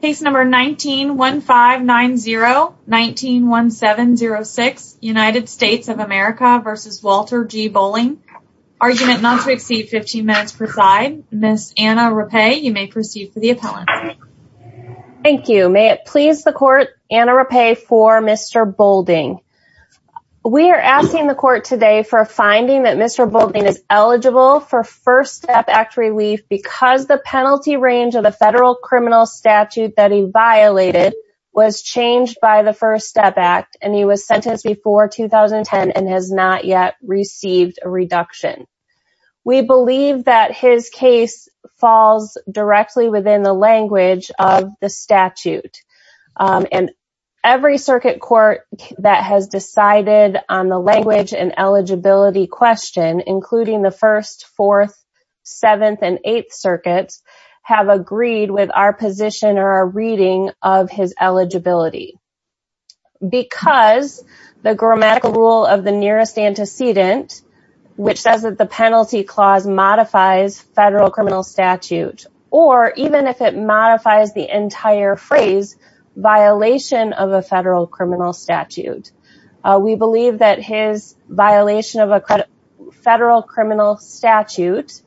Case number 19-1590-191706, United States of America v. Walter G. Boulding. Argument not to exceed 15 minutes per side. Ms. Anna Rappe, you may proceed for the appellant. Thank you. May it please the court, Anna Rappe for Mr. Boulding. We are asking the court today for a finding that Mr. Boulding is eligible for First Step Act relief because the penalty range of the federal criminal statute that he violated was changed by the First Step Act and he was sentenced before 2010 and has not yet received a reduction. We believe that his case falls directly within the language of the statute and every circuit court that has decided on the our position or our reading of his eligibility. Because the grammatical rule of the nearest antecedent, which says that the penalty clause modifies federal criminal statute or even if it modifies the entire phrase, violation of a federal criminal statute. We believe that his violation of a federal criminal statute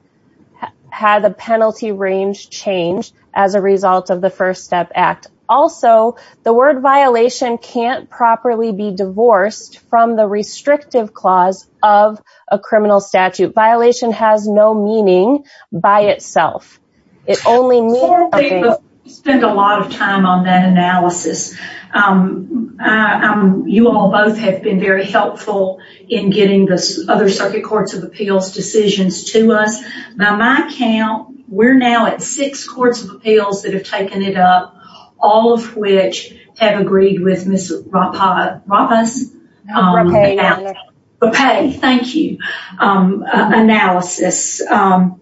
had the penalty range changed as a result of the First Step Act. Also, the word violation can't properly be divorced from the restrictive clause of a criminal statute. Violation has no meaning by itself. It only means... We spent a lot of time on that analysis. You all both have been very helpful in getting other Circuit Courts of Appeals decisions to us. Now my count, we're now at six Courts of Appeals that have taken it up, all of which have agreed with Ms. Rappap... Rappas? Rappay. Thank you. Analysis. I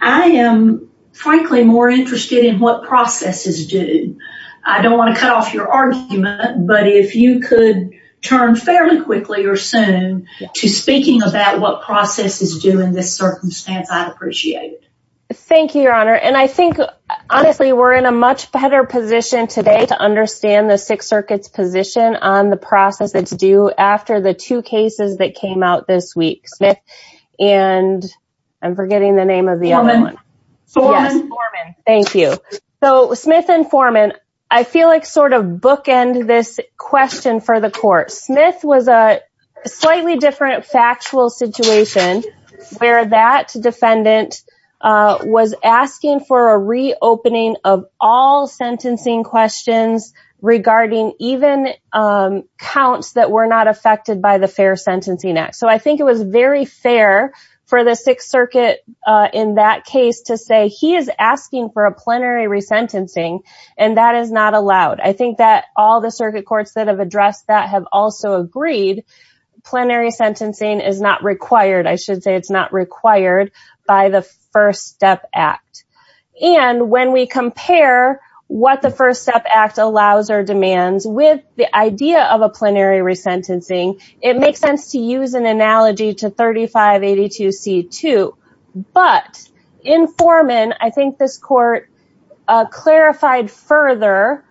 am frankly more interested in what processes do. I don't want to cut off your argument, but if you could turn fairly quickly or soon to speaking about what process is due in this circumstance, I'd appreciate it. Thank you, Your Honor. And I think, honestly, we're in a much better position today to understand the Sixth Circuit's position on the process that's due after the two cases that came out this week, and I'm forgetting the name of the other one. Forman. Thank you. So Smith and Forman, I feel like sort of bookend this question for the Court. Smith was a slightly different factual situation where that defendant was asking for a reopening of all sentencing questions regarding even counts that were not affected by the Fair Sentencing Act. So I think it was very fair for the Sixth Circuit in that case to say he is asking for a plenary resentencing and that is not allowed. I think that all the Circuit Courts that have addressed that have also agreed plenary sentencing is not required. I should say it's not required by the First Step Act. And when we compare what the First Step Act allows or demands with the idea of a plenary resentencing, it makes sense to use an analogy to 3582C2. But in Forman, I think this Court clarified further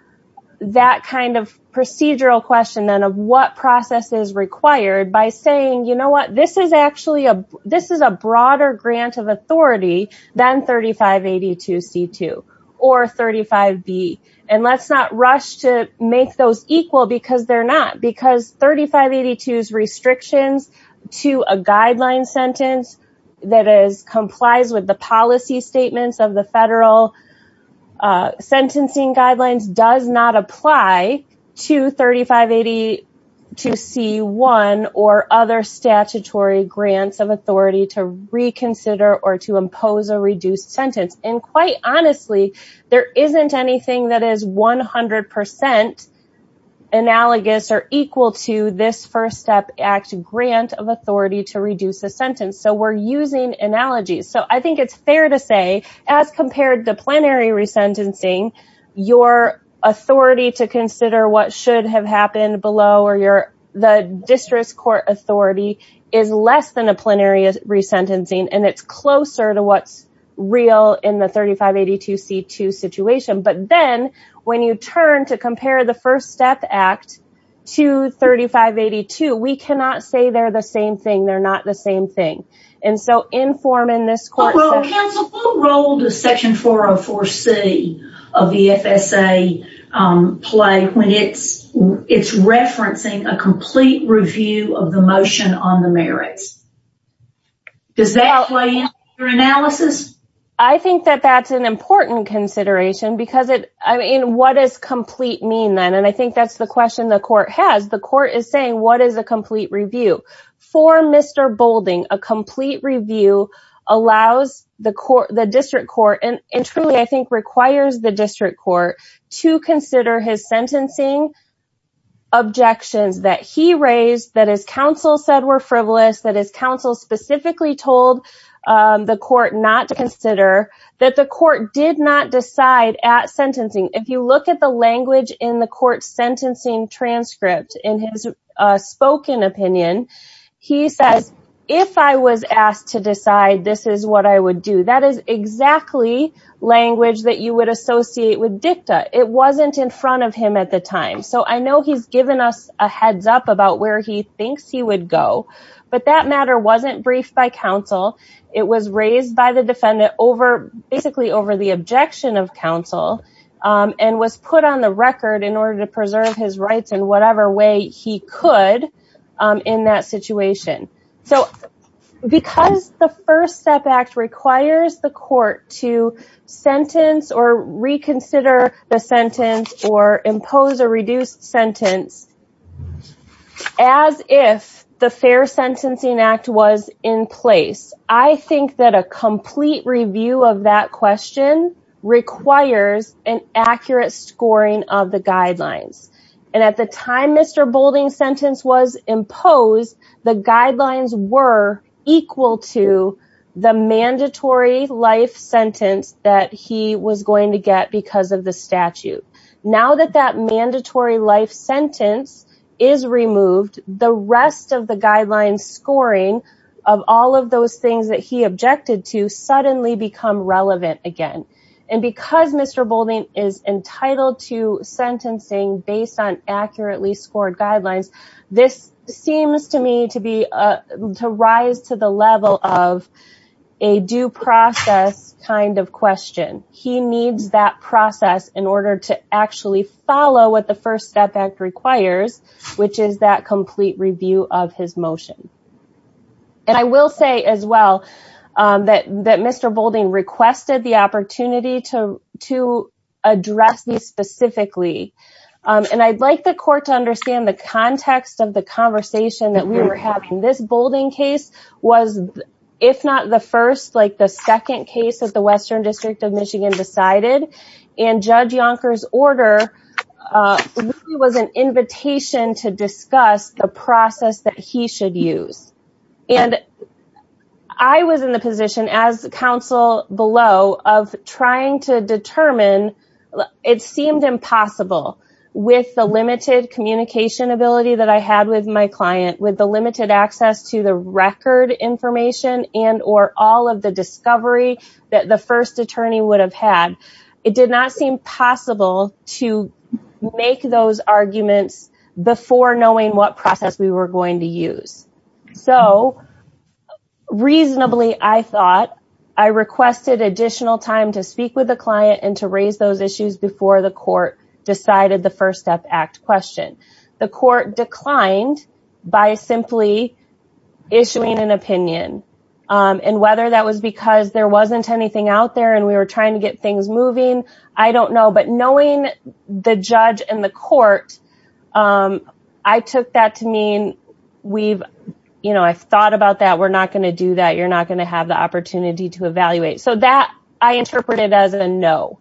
that kind of procedural question then of what process is required by saying, you know what, this is a broader grant of authority than 3582C2 or 35B. And let's not rush to make those equal because they're not. Because 3582's restrictions to a guideline sentence that complies with the policy statements of the federal sentencing guidelines does not apply to 3582C1 or other statutory grants of authority to reconsider or to impose a reduced sentence. And quite honestly, there isn't anything that is 100% analogous or equal to this First Step Act grant of authority to reduce the sentence. So we're using analogies. So I think it's fair to say, as compared to plenary resentencing, your authority to consider what should have happened below or the District Court authority is less than a plenary resentencing. And it's closer to what's real in the 3582C2 situation. But then when you turn to compare the First Step Act to 3582, we cannot say they're the same thing. They're not the same thing. And so in Forman, this Court said... Well, Counsel, what role does Section 404C of the FSA play when it's referencing a complete review of the motion on the merits? Does that play into your analysis? I think that that's an important consideration because it... I mean, what does complete mean then? And I think that's the question the Court has. The Court is saying, what is a complete review? For Mr. Boulding, a complete review allows the District Court and truly, I think, requires the District Court to consider his sentencing objections that he raised, that his counsel said were frivolous, that his counsel specifically told the Court not to consider, that the Court did not decide at sentencing. If you look at the language in the Court's sentencing transcript, in his spoken opinion, he says, if I was asked to decide, this is what you would associate with dicta. It wasn't in front of him at the time. So I know he's given us a heads up about where he thinks he would go, but that matter wasn't briefed by counsel. It was raised by the defendant over... basically over the objection of counsel and was put on the record in order to preserve his rights in whatever way he could in that situation. So because the First Step Act requires the Court to sentence or reconsider the sentence or impose a reduced sentence as if the Fair Sentencing Act was in place, I think that a complete review of that question requires an accurate scoring of the guidelines. And at the time Mr. Boulding's imposed, the guidelines were equal to the mandatory life sentence that he was going to get because of the statute. Now that that mandatory life sentence is removed, the rest of the guidelines scoring of all of those things that he objected to suddenly become relevant again. And because Mr. Boulding is entitled to sentencing based on accurately scored guidelines, this seems to me to rise to the level of a due process kind of question. He needs that process in order to actually follow what the First Step Act requires, which is that complete review of his motion. And I will say as well that Mr. Boulding requested the opportunity to address these specifically. And I'd like the Court to understand the context of the conversation that we were having. This Boulding case was, if not the first, like the second case that the Western District of Michigan decided. And Judge Yonker's order was an invitation to discuss the process that he should use. And I was in the position as counsel below of trying to determine it seemed impossible with the limited communication ability that I had with my client, with the limited access to the record information and or all of the discovery that the first attorney would have had. It did not seem possible to make those I requested additional time to speak with the client and to raise those issues before the court decided the First Step Act question. The court declined by simply issuing an opinion. And whether that was because there wasn't anything out there and we were trying to get things moving, I don't know. But knowing the judge and the court, I took that to mean, we've, you know, I've thought about that. We're not going to do that. You're not going to have the opportunity to evaluate. So that I interpreted as a no.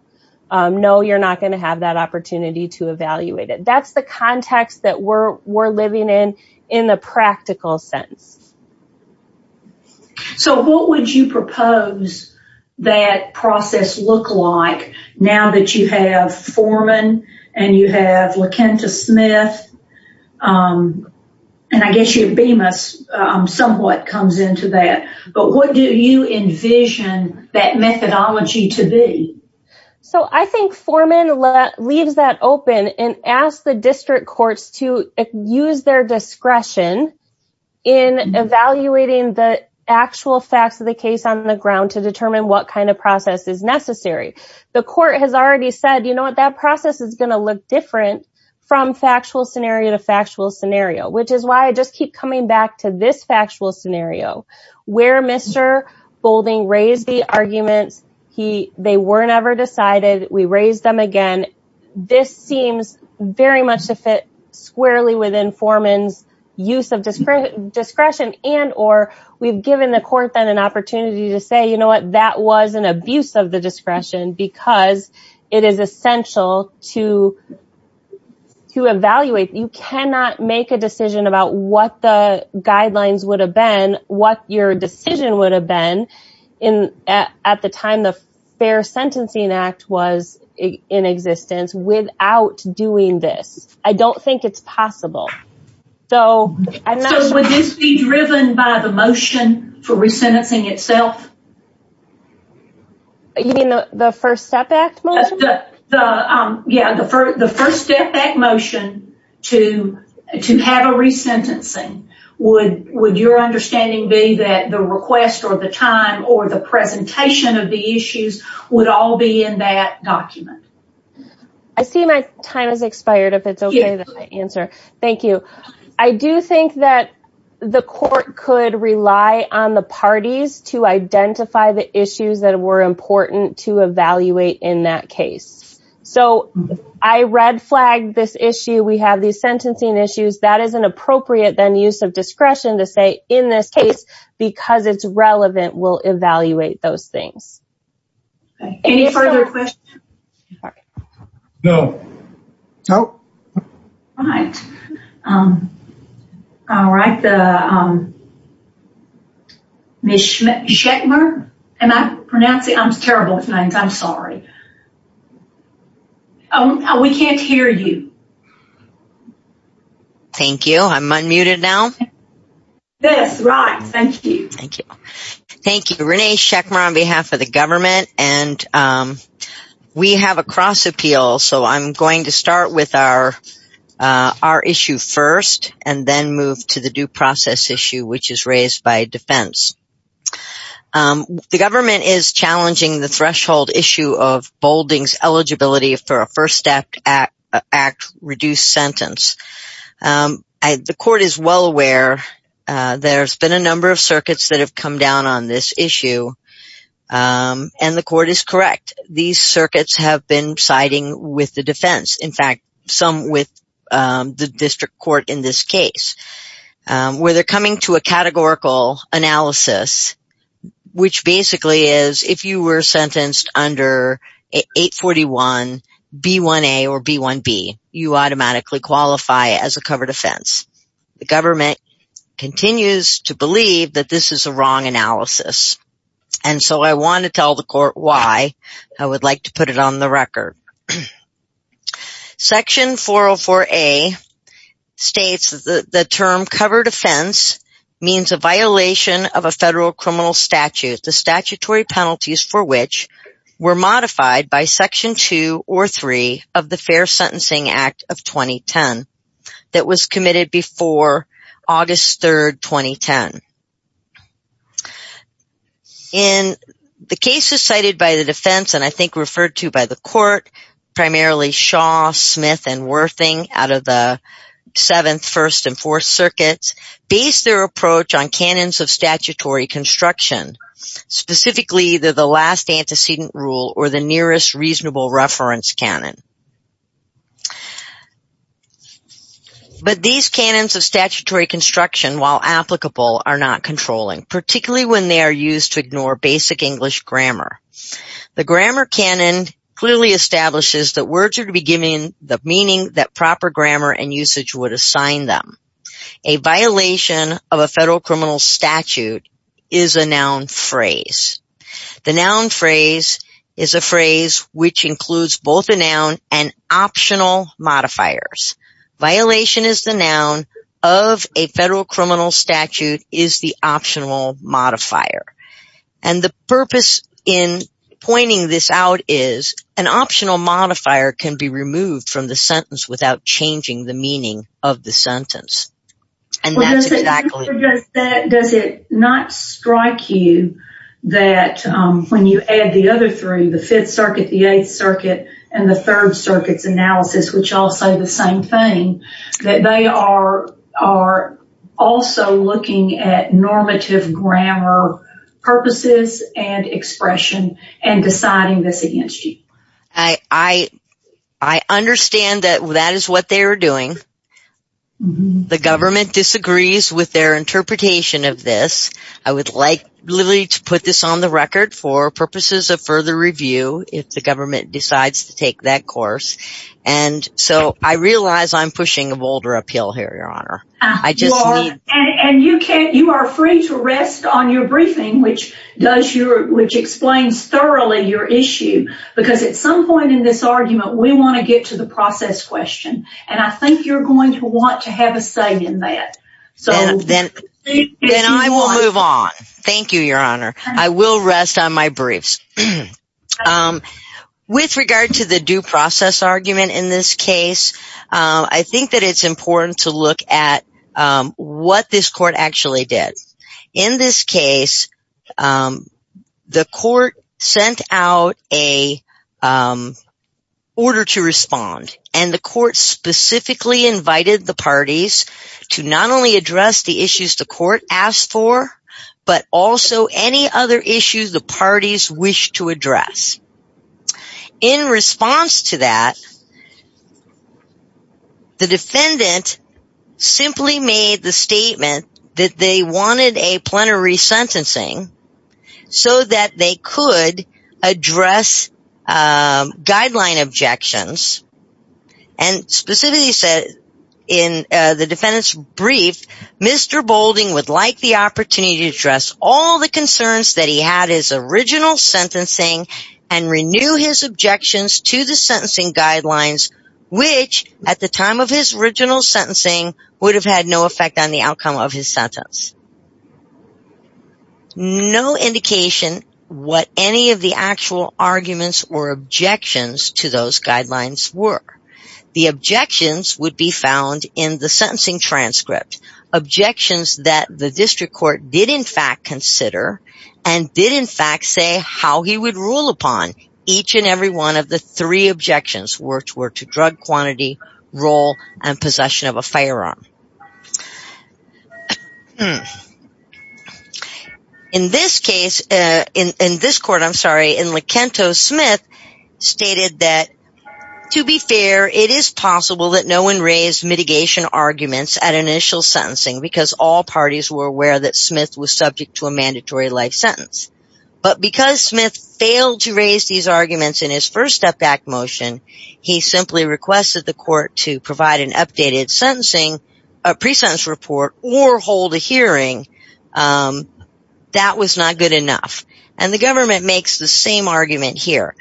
No, you're not going to have that opportunity to evaluate it. That's the context that we're living in, in the practical sense. So what would you propose that process look like now that you have Foreman and you have Kenta Smith? And I guess your Bemis somewhat comes into that. But what do you envision that methodology to be? So I think Foreman leaves that open and asks the district courts to use their discretion in evaluating the actual facts of the case on the ground to determine what kind of process is necessary. The court has already said, you know what, that process is going to look different from factual scenario to factual scenario, which is why I just keep coming back to this factual scenario where Mr. Boulding raised the arguments. They were never decided. We raised them again. This seems very much to fit squarely within Foreman's use of discretion and or we've given the court then an opportunity to say, you know what, that was an essential to evaluate. You cannot make a decision about what the guidelines would have been, what your decision would have been at the time the Fair Sentencing Act was in existence without doing this. I don't think it's possible. So would this be driven by the motion for resentencing itself? You mean the First Step Act motion? Yeah, the First Step Act motion to have a resentencing. Would your understanding be that the request or the time or the presentation of the issues would all be in that document? I see my time has expired. If it's okay that I answer. Thank you. I do think that the court could rely on the parties to identify the issues that were important to evaluate in that case. So I red flagged this issue. We have these sentencing issues. That is an appropriate then use of discretion to say in this case because it's relevant, we'll evaluate those things. Any further questions? No. No. All right. All right. Ms. Schechmer, am I pronouncing? I'm terrible at names. I'm sorry. Oh, we can't hear you. Thank you. I'm unmuted now. Yes, right. Thank you. Thank you. Thank you, Renee Schechmer on behalf of the government. And we have a cross appeal. So I'm going to start with our issue first and then move to the due process issue, which is raised by defense. The government is sentenced. The court is well aware. There's been a number of circuits that have come down on this issue. And the court is correct. These circuits have been siding with the defense. In fact, some with the district court in this case, where they're coming to a categorical analysis, which basically is if you were sentenced under 841 B1A or B1B, you automatically qualify as a covered offense. The government continues to believe that this is a wrong analysis. And so I want to tell the court why I would like to put it on the record. Section 404A states that the term covered offense means a violation of a federal criminal statute, the statutory penalties for which were modified by Section 2 or 3 of the Fair Sentencing Act of 2010 that was committed before August 3rd, 2010. In the cases cited by the defense and I think referred to by the court, primarily Shaw, Smith and Worthing out of the 7th, 1st and 4th circuits, based their approach on canons of statutory construction, specifically the last antecedent rule or the nearest reasonable reference canon. But these canons of statutory construction, while applicable, are not controlling, particularly when they are used to ignore basic English grammar. The grammar canon clearly establishes that words are to be given the meaning that proper grammar and usage would assign them. A violation of a federal criminal statute is a noun phrase. The noun phrase is a phrase which includes both a noun and optional modifiers. Violation is the noun of a federal criminal statute is the optional modifier. The purpose in pointing this out is an optional modifier can be removed from the sentence without changing the meaning of the sentence. Does it not strike you that when you add the other three, the 5th circuit, the 8th circuit and the 3rd circuit's analysis, which all say the same thing, that they are also looking at normative grammar purposes and expression and deciding this against you? I understand that that is what they are doing. The government disagrees with their interpretation of this. I would like to put this on the record for purposes of further review. If the government decides to take that course. I realize I'm pushing a boulder uphill here, Your Honor. You are free to rest on your briefing, which explains thoroughly your issue. At some point in this argument, we want to get to the process question. I think you're going to want to have a say in that. Then I will move on. Thank you, Your Honor. I will rest on my briefs. With regard to the due process argument in this case, I think that it's important to look at what this court actually did. In this case, the court sent out an order to respond. The court specifically invited the parties to not only address the issues the defendant was trying to address. In response to that, the defendant simply made the statement that they wanted a plenary sentencing so that they could address guideline objections. Specifically, he said in the defendant's brief, Mr. Boulding would like the opportunity to address all the concerns that he had his original sentencing and renew his objections to the sentencing guidelines, which at the time of his original sentencing would have had no effect on the outcome of his sentence. No indication what any of the actual arguments or objections to those guidelines were. The objections would be found in the sentencing transcript. Objections that the defendant did not consider and did in fact say how he would rule upon each and every one of the three objections, which were to drug quantity, role, and possession of a firearm. In this case, in this court, I'm sorry, in Lakento, Smith stated that to be fair, it is possible that no one raised mitigation arguments at initial sentencing because all parties were aware that there was a mandatory life sentence. But because Smith failed to raise these arguments in his first step back motion, he simply requested the court to provide an updated sentencing, a pre-sentence report, or hold a hearing. That was not good enough. And the government makes the same argument here.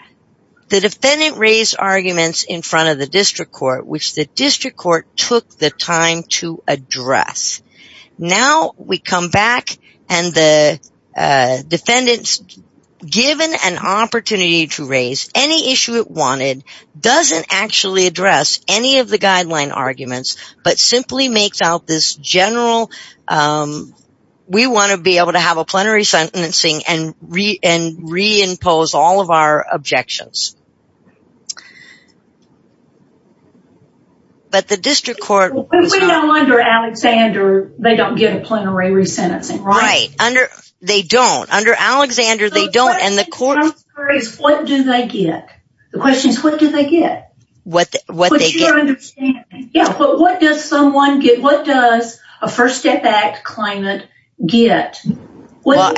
The defendant raised arguments in front of the district court, which the district court took the time to address. Now we come back and the defendant's given an opportunity to raise any issue it wanted, doesn't actually address any of the guideline arguments, but simply makes out this general, we want to be able to have a plenary sentencing and re-impose all of our objections. But the district court, we know under Alexander, they don't get a plenary re-sentencing, right? Under, they don't. Under Alexander, they don't. And the court, what do they get? The question is, what do they get? What, what they get? Yeah, but what does someone get? What does a first step act claimant get? What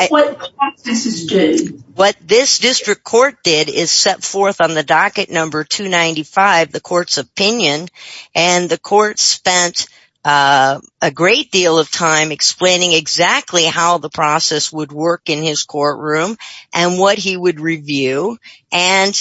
this district court did is set forth on the docket number 295, the court's opinion, and the court spent a great deal of time explaining exactly how the process would work in his courtroom and what he would review. And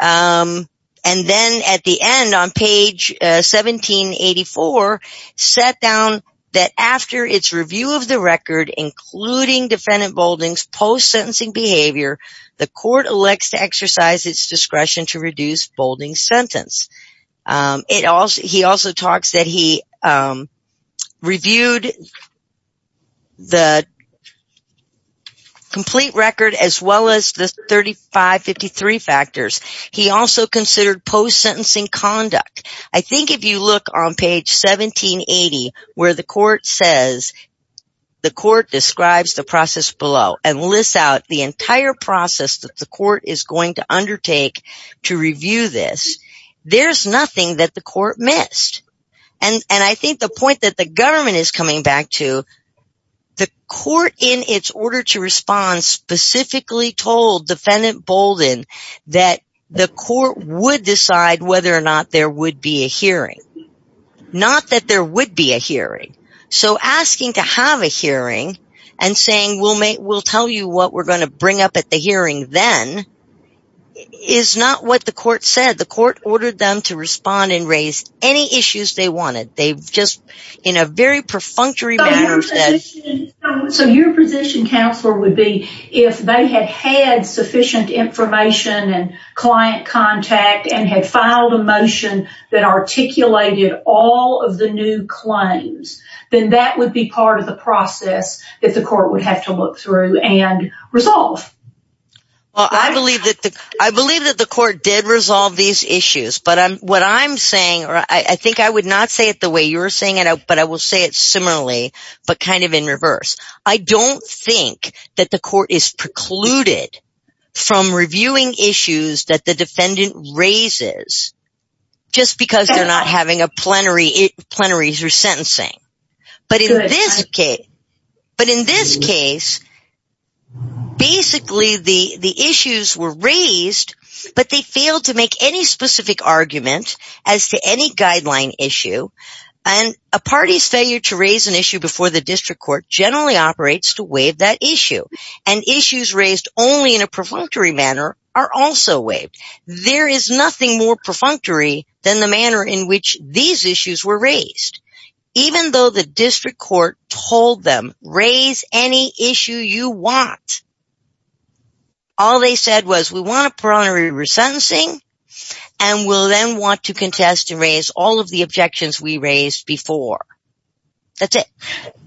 then at the end on page 1784, set down that after its review of the record, including defendant Boulding's post-sentencing behavior, the court elects to exercise its discretion to reduce Boulding's sentence. It also, he also talks that he reviewed the complete record as well as the 3553 factors. He also considered post-sentencing conduct. I think if you look on page 1780, where the court says, the court describes the process below and lists out the entire process that the court is going to undertake to review this, there's nothing that the court missed. And I think the point that the government is coming back to, the court in its order to respond specifically told defendant Boulding that the court would decide whether or not there would be a hearing. Not that there would be a hearing. So asking to have a hearing and saying, we'll make, we'll tell you what we're going to bring up at the hearing then, is not what the court said. The court ordered them to respond and raise any issues they wanted. They've just, in a very perfunctory manner said. So your position, Counselor, would be if they had had sufficient information and client contact and had filed a motion that articulated all of the new claims, then that would be part of the process that the court would have to look through and resolve. Well, I believe that the, I believe that the court did resolve these issues, but what I'm saying, or I think I would not say it the way you're saying it, but I will say it similarly, but kind of in reverse. I don't think that the court is precluded from reviewing issues that the defendant raises just because they're not having a plenary, plenaries or sentencing. But in this case, but in this case, basically the issues were raised, but they failed to make any specific argument as to any guideline issue. And a party's failure to raise an issue before the district court generally operates to waive that issue. And issues raised only in a perfunctory manner are also waived. There is nothing more perfunctory than the manner in which these issues were raised. Even though the district court told them, raise any issue you want. All they said was, we want a plenary resentencing, and we'll then want to contest and raise all of the objections we raised before. That's it.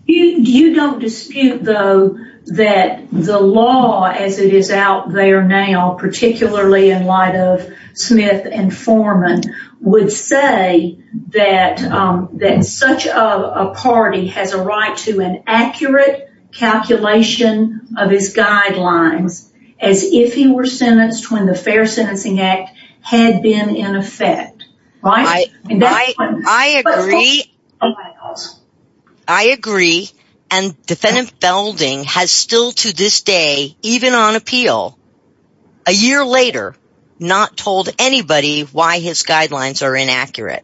You don't dispute though that the law as it is out there now, particularly in light of Smith and Foreman, would say that such a party has a right to an accurate calculation of his guidelines as if he were sentenced when the Fair Sentencing Act had been in effect. I agree, and defendant Felding has still to this day, even on appeal, a year later, not told anybody why his guidelines are inaccurate.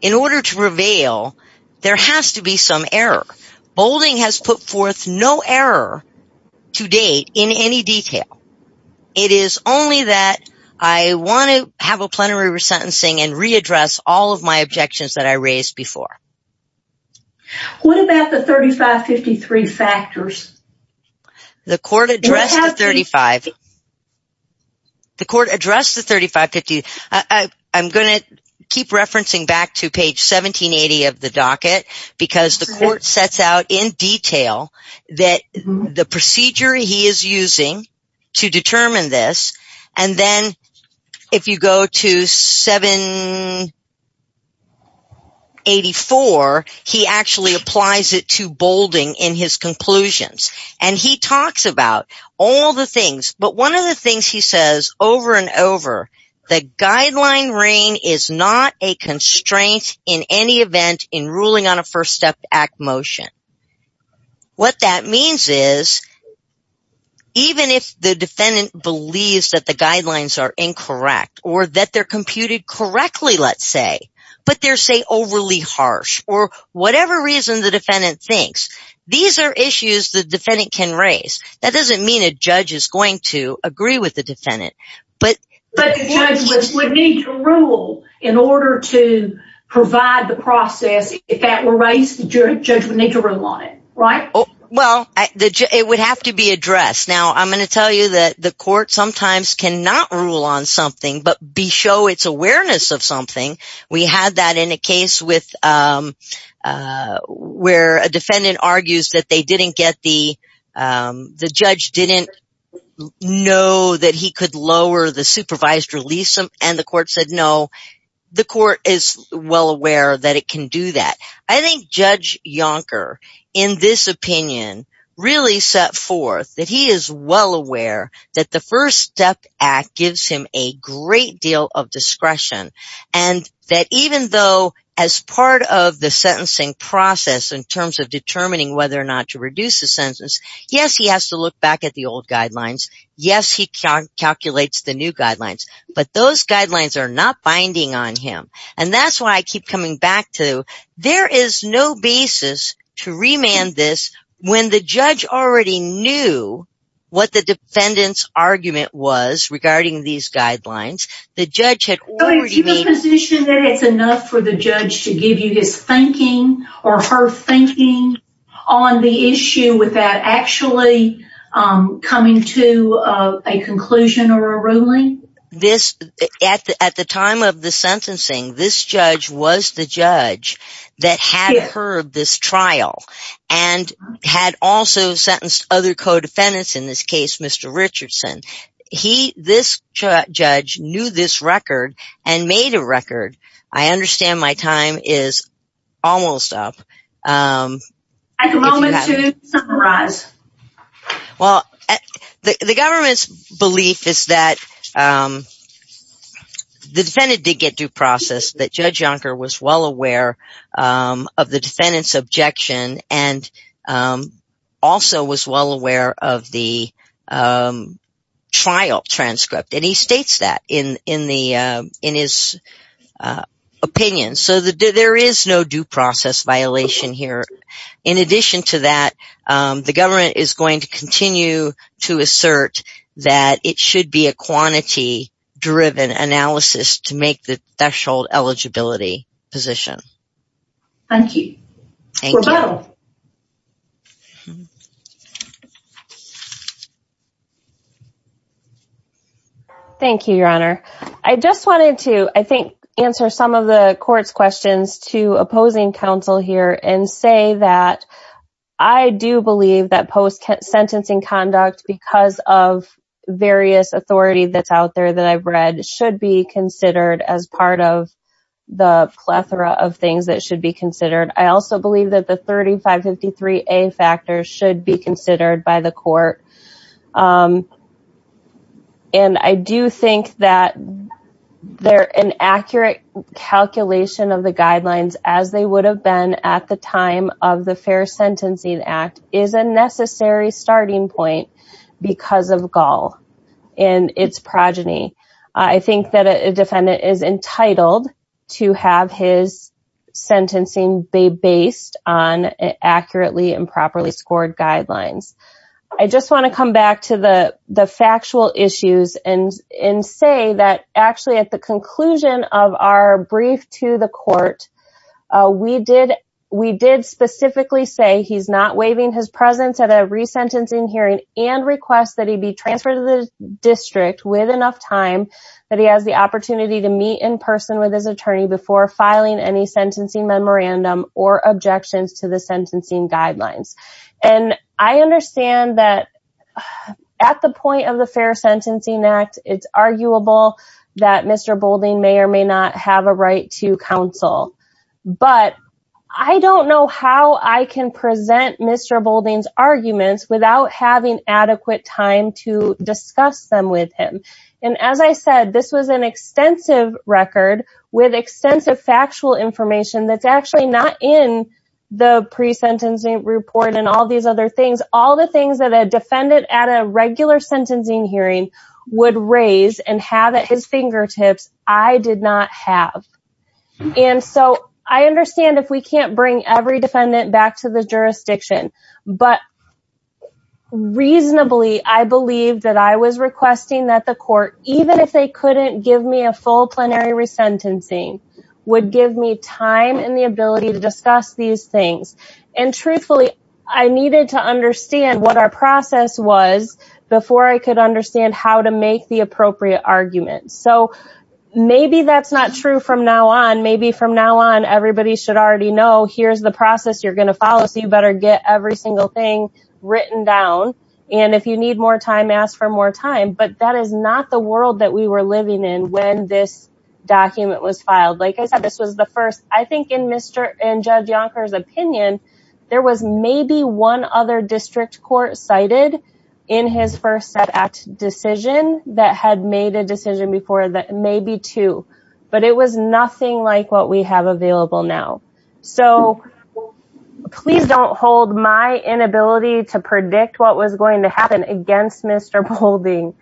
In order to prevail, there has to be some error. Boulding has put forth no error to date in any detail. It is only that I want to have a plenary resentencing and readdress all of my objections that I raised before. What about the 35-53 factors? The court addressed the 35-53 I'm going to keep referencing back to page 1780 of the docket because the court sets out in detail that the procedure he is using to determine this, and then if you go to 784, he actually applies it to Boulding in his conclusions. He talks about all the things, but one of the things he says over and over, the guideline reign is not a constraint in any event in ruling on a First Step Act motion. What that means is, even if the defendant believes that the guidelines are incorrect or that they're computed correctly, let's say, but they're, say, overly harsh or whatever reason the defendant thinks, these are issues the defendant can raise. That doesn't mean a judge is going to agree with the defendant. But the judge would need to rule in order to provide the process. If that were raised, the judge would need to rule on it, right? Well, it would have to be addressed. Now, I'm going to tell you that the court sometimes cannot rule on something but show its awareness of something. We had that in a case where a defendant argues they didn't get the, the judge didn't know that he could lower the supervised release, and the court said no. The court is well aware that it can do that. I think Judge Yonker, in this opinion, really set forth that he is well aware that the First Step Act gives him a great deal of discretion, and that even though as part of the sentencing process in terms of determining whether or not to reduce the sentence, yes, he has to look back at the old guidelines. Yes, he calculates the new guidelines, but those guidelines are not binding on him. And that's why I keep coming back to, there is no basis to remand this when the judge already knew what the defendant's argument was regarding these guidelines. The judge had already made... on the issue without actually coming to a conclusion or a ruling. At the time of the sentencing, this judge was the judge that had heard this trial and had also sentenced other co-defendants, in this case, Mr. Richardson. He, this judge, knew this record and made a record. I understand my time is almost up. I have a moment to summarize. Well, the government's belief is that the defendant did get due process, that Judge Yonker was well aware of the defendant's objection and also was well aware of the trial transcript. And he states that in his opinion. So there is no due process violation here. In addition to that, the government is going to continue to assert that it should be a quantity-driven analysis to make the threshold eligibility position. Thank you. Thank you, Your Honor. I just wanted to, I think, answer some of the court's questions to opposing counsel here and say that I do believe that post-sentencing conduct, because of various authority that's out there that I've read, should be considered as part of the plethora of things that should be considered. I also believe that the 3553A factor should be considered by the court. And I do think that an accurate calculation of the guidelines, as they would have been at the time of the Fair Sentencing Act, is a necessary starting point because of Gall and its progeny. I think that a defendant is entitled to have his sentencing be based on accurately and properly scored guidelines. I just want to come back to the factual issues and say that actually, at the conclusion of our brief to the court, we did specifically say he's not waiving his presence at every sentencing hearing and request that he be transferred to the district with enough time that he has the opportunity to meet in person with his attorney before filing any sentencing memorandum or objections to the sentencing guidelines. And I understand that at the point of the Fair Sentencing Act, it's arguable that Mr. Boulding may or may not have a right to counsel, but I don't know how I can present Mr. Boulding's arguments without having adequate time to discuss them with him. And as I said, this was an extensive record with extensive factual information that's actually not in the pre-sentencing report and all these other things. All the things that a defendant at a regular sentencing hearing would raise and have at his fingertips, I did not have. And so, I understand if we can't bring every defendant back to the jurisdiction, but reasonably, I believe that I was requesting that the court, even if they take time and the ability to discuss these things. And truthfully, I needed to understand what our process was before I could understand how to make the appropriate arguments. So, maybe that's not true from now on. Maybe from now on, everybody should already know, here's the process you're going to follow, so you better get every single thing written down. And if you need more time, ask for more time. But that is not the world that we were living in when this document was filed. Like I said, this was the first, I think in Judge Yonker's opinion, there was maybe one other district court cited in his First Step Act decision that had made a decision before that maybe two, but it was nothing like what we have available now. So, please don't hold my inability to predict what was going to happen against Mr. Boulding.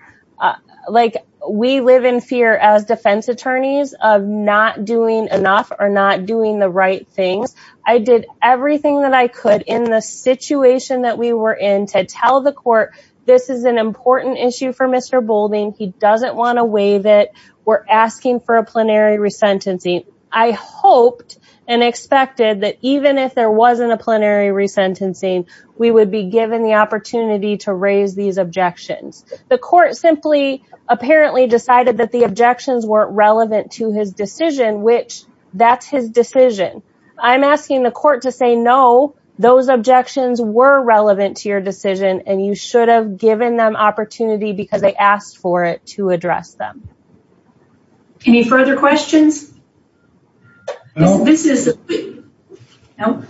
Like, we live in fear as defense attorneys of not doing enough or not doing the right things. I did everything that I could in the situation that we were in to tell the court, this is an important issue for Mr. Boulding. He doesn't want to waive it. We're asking for a plenary resentencing. I hoped and expected that even if there wasn't a plenary resentencing, we would be given the opportunity to raise these objections. The court simply apparently decided that the objections weren't relevant to his decision, which that's his decision. I'm asking the court to say, no, those objections were relevant to your decision and you should have given them opportunity because they asked for it to address them. Any further questions? No.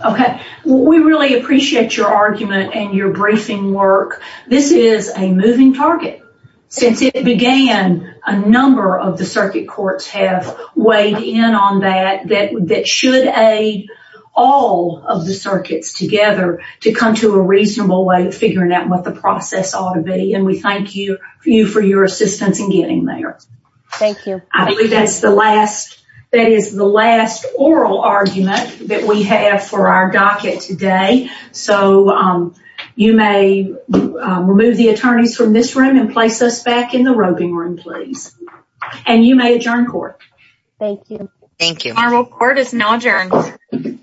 Okay. We really appreciate your argument and your briefing work. This is a moving target. Since it began, a number of the circuit courts have weighed in on that, that should aid all of the circuits together to come to a reasonable way of figuring out what the process ought to be. And we thank you for your assistance in getting there. Thank you. I think that's the last that is the last oral argument that we have for our docket today. So you may remove the attorneys from this room and place us back in the roping room, please. And you may adjourn court. Thank you. Thank you. Our court is now adjourned.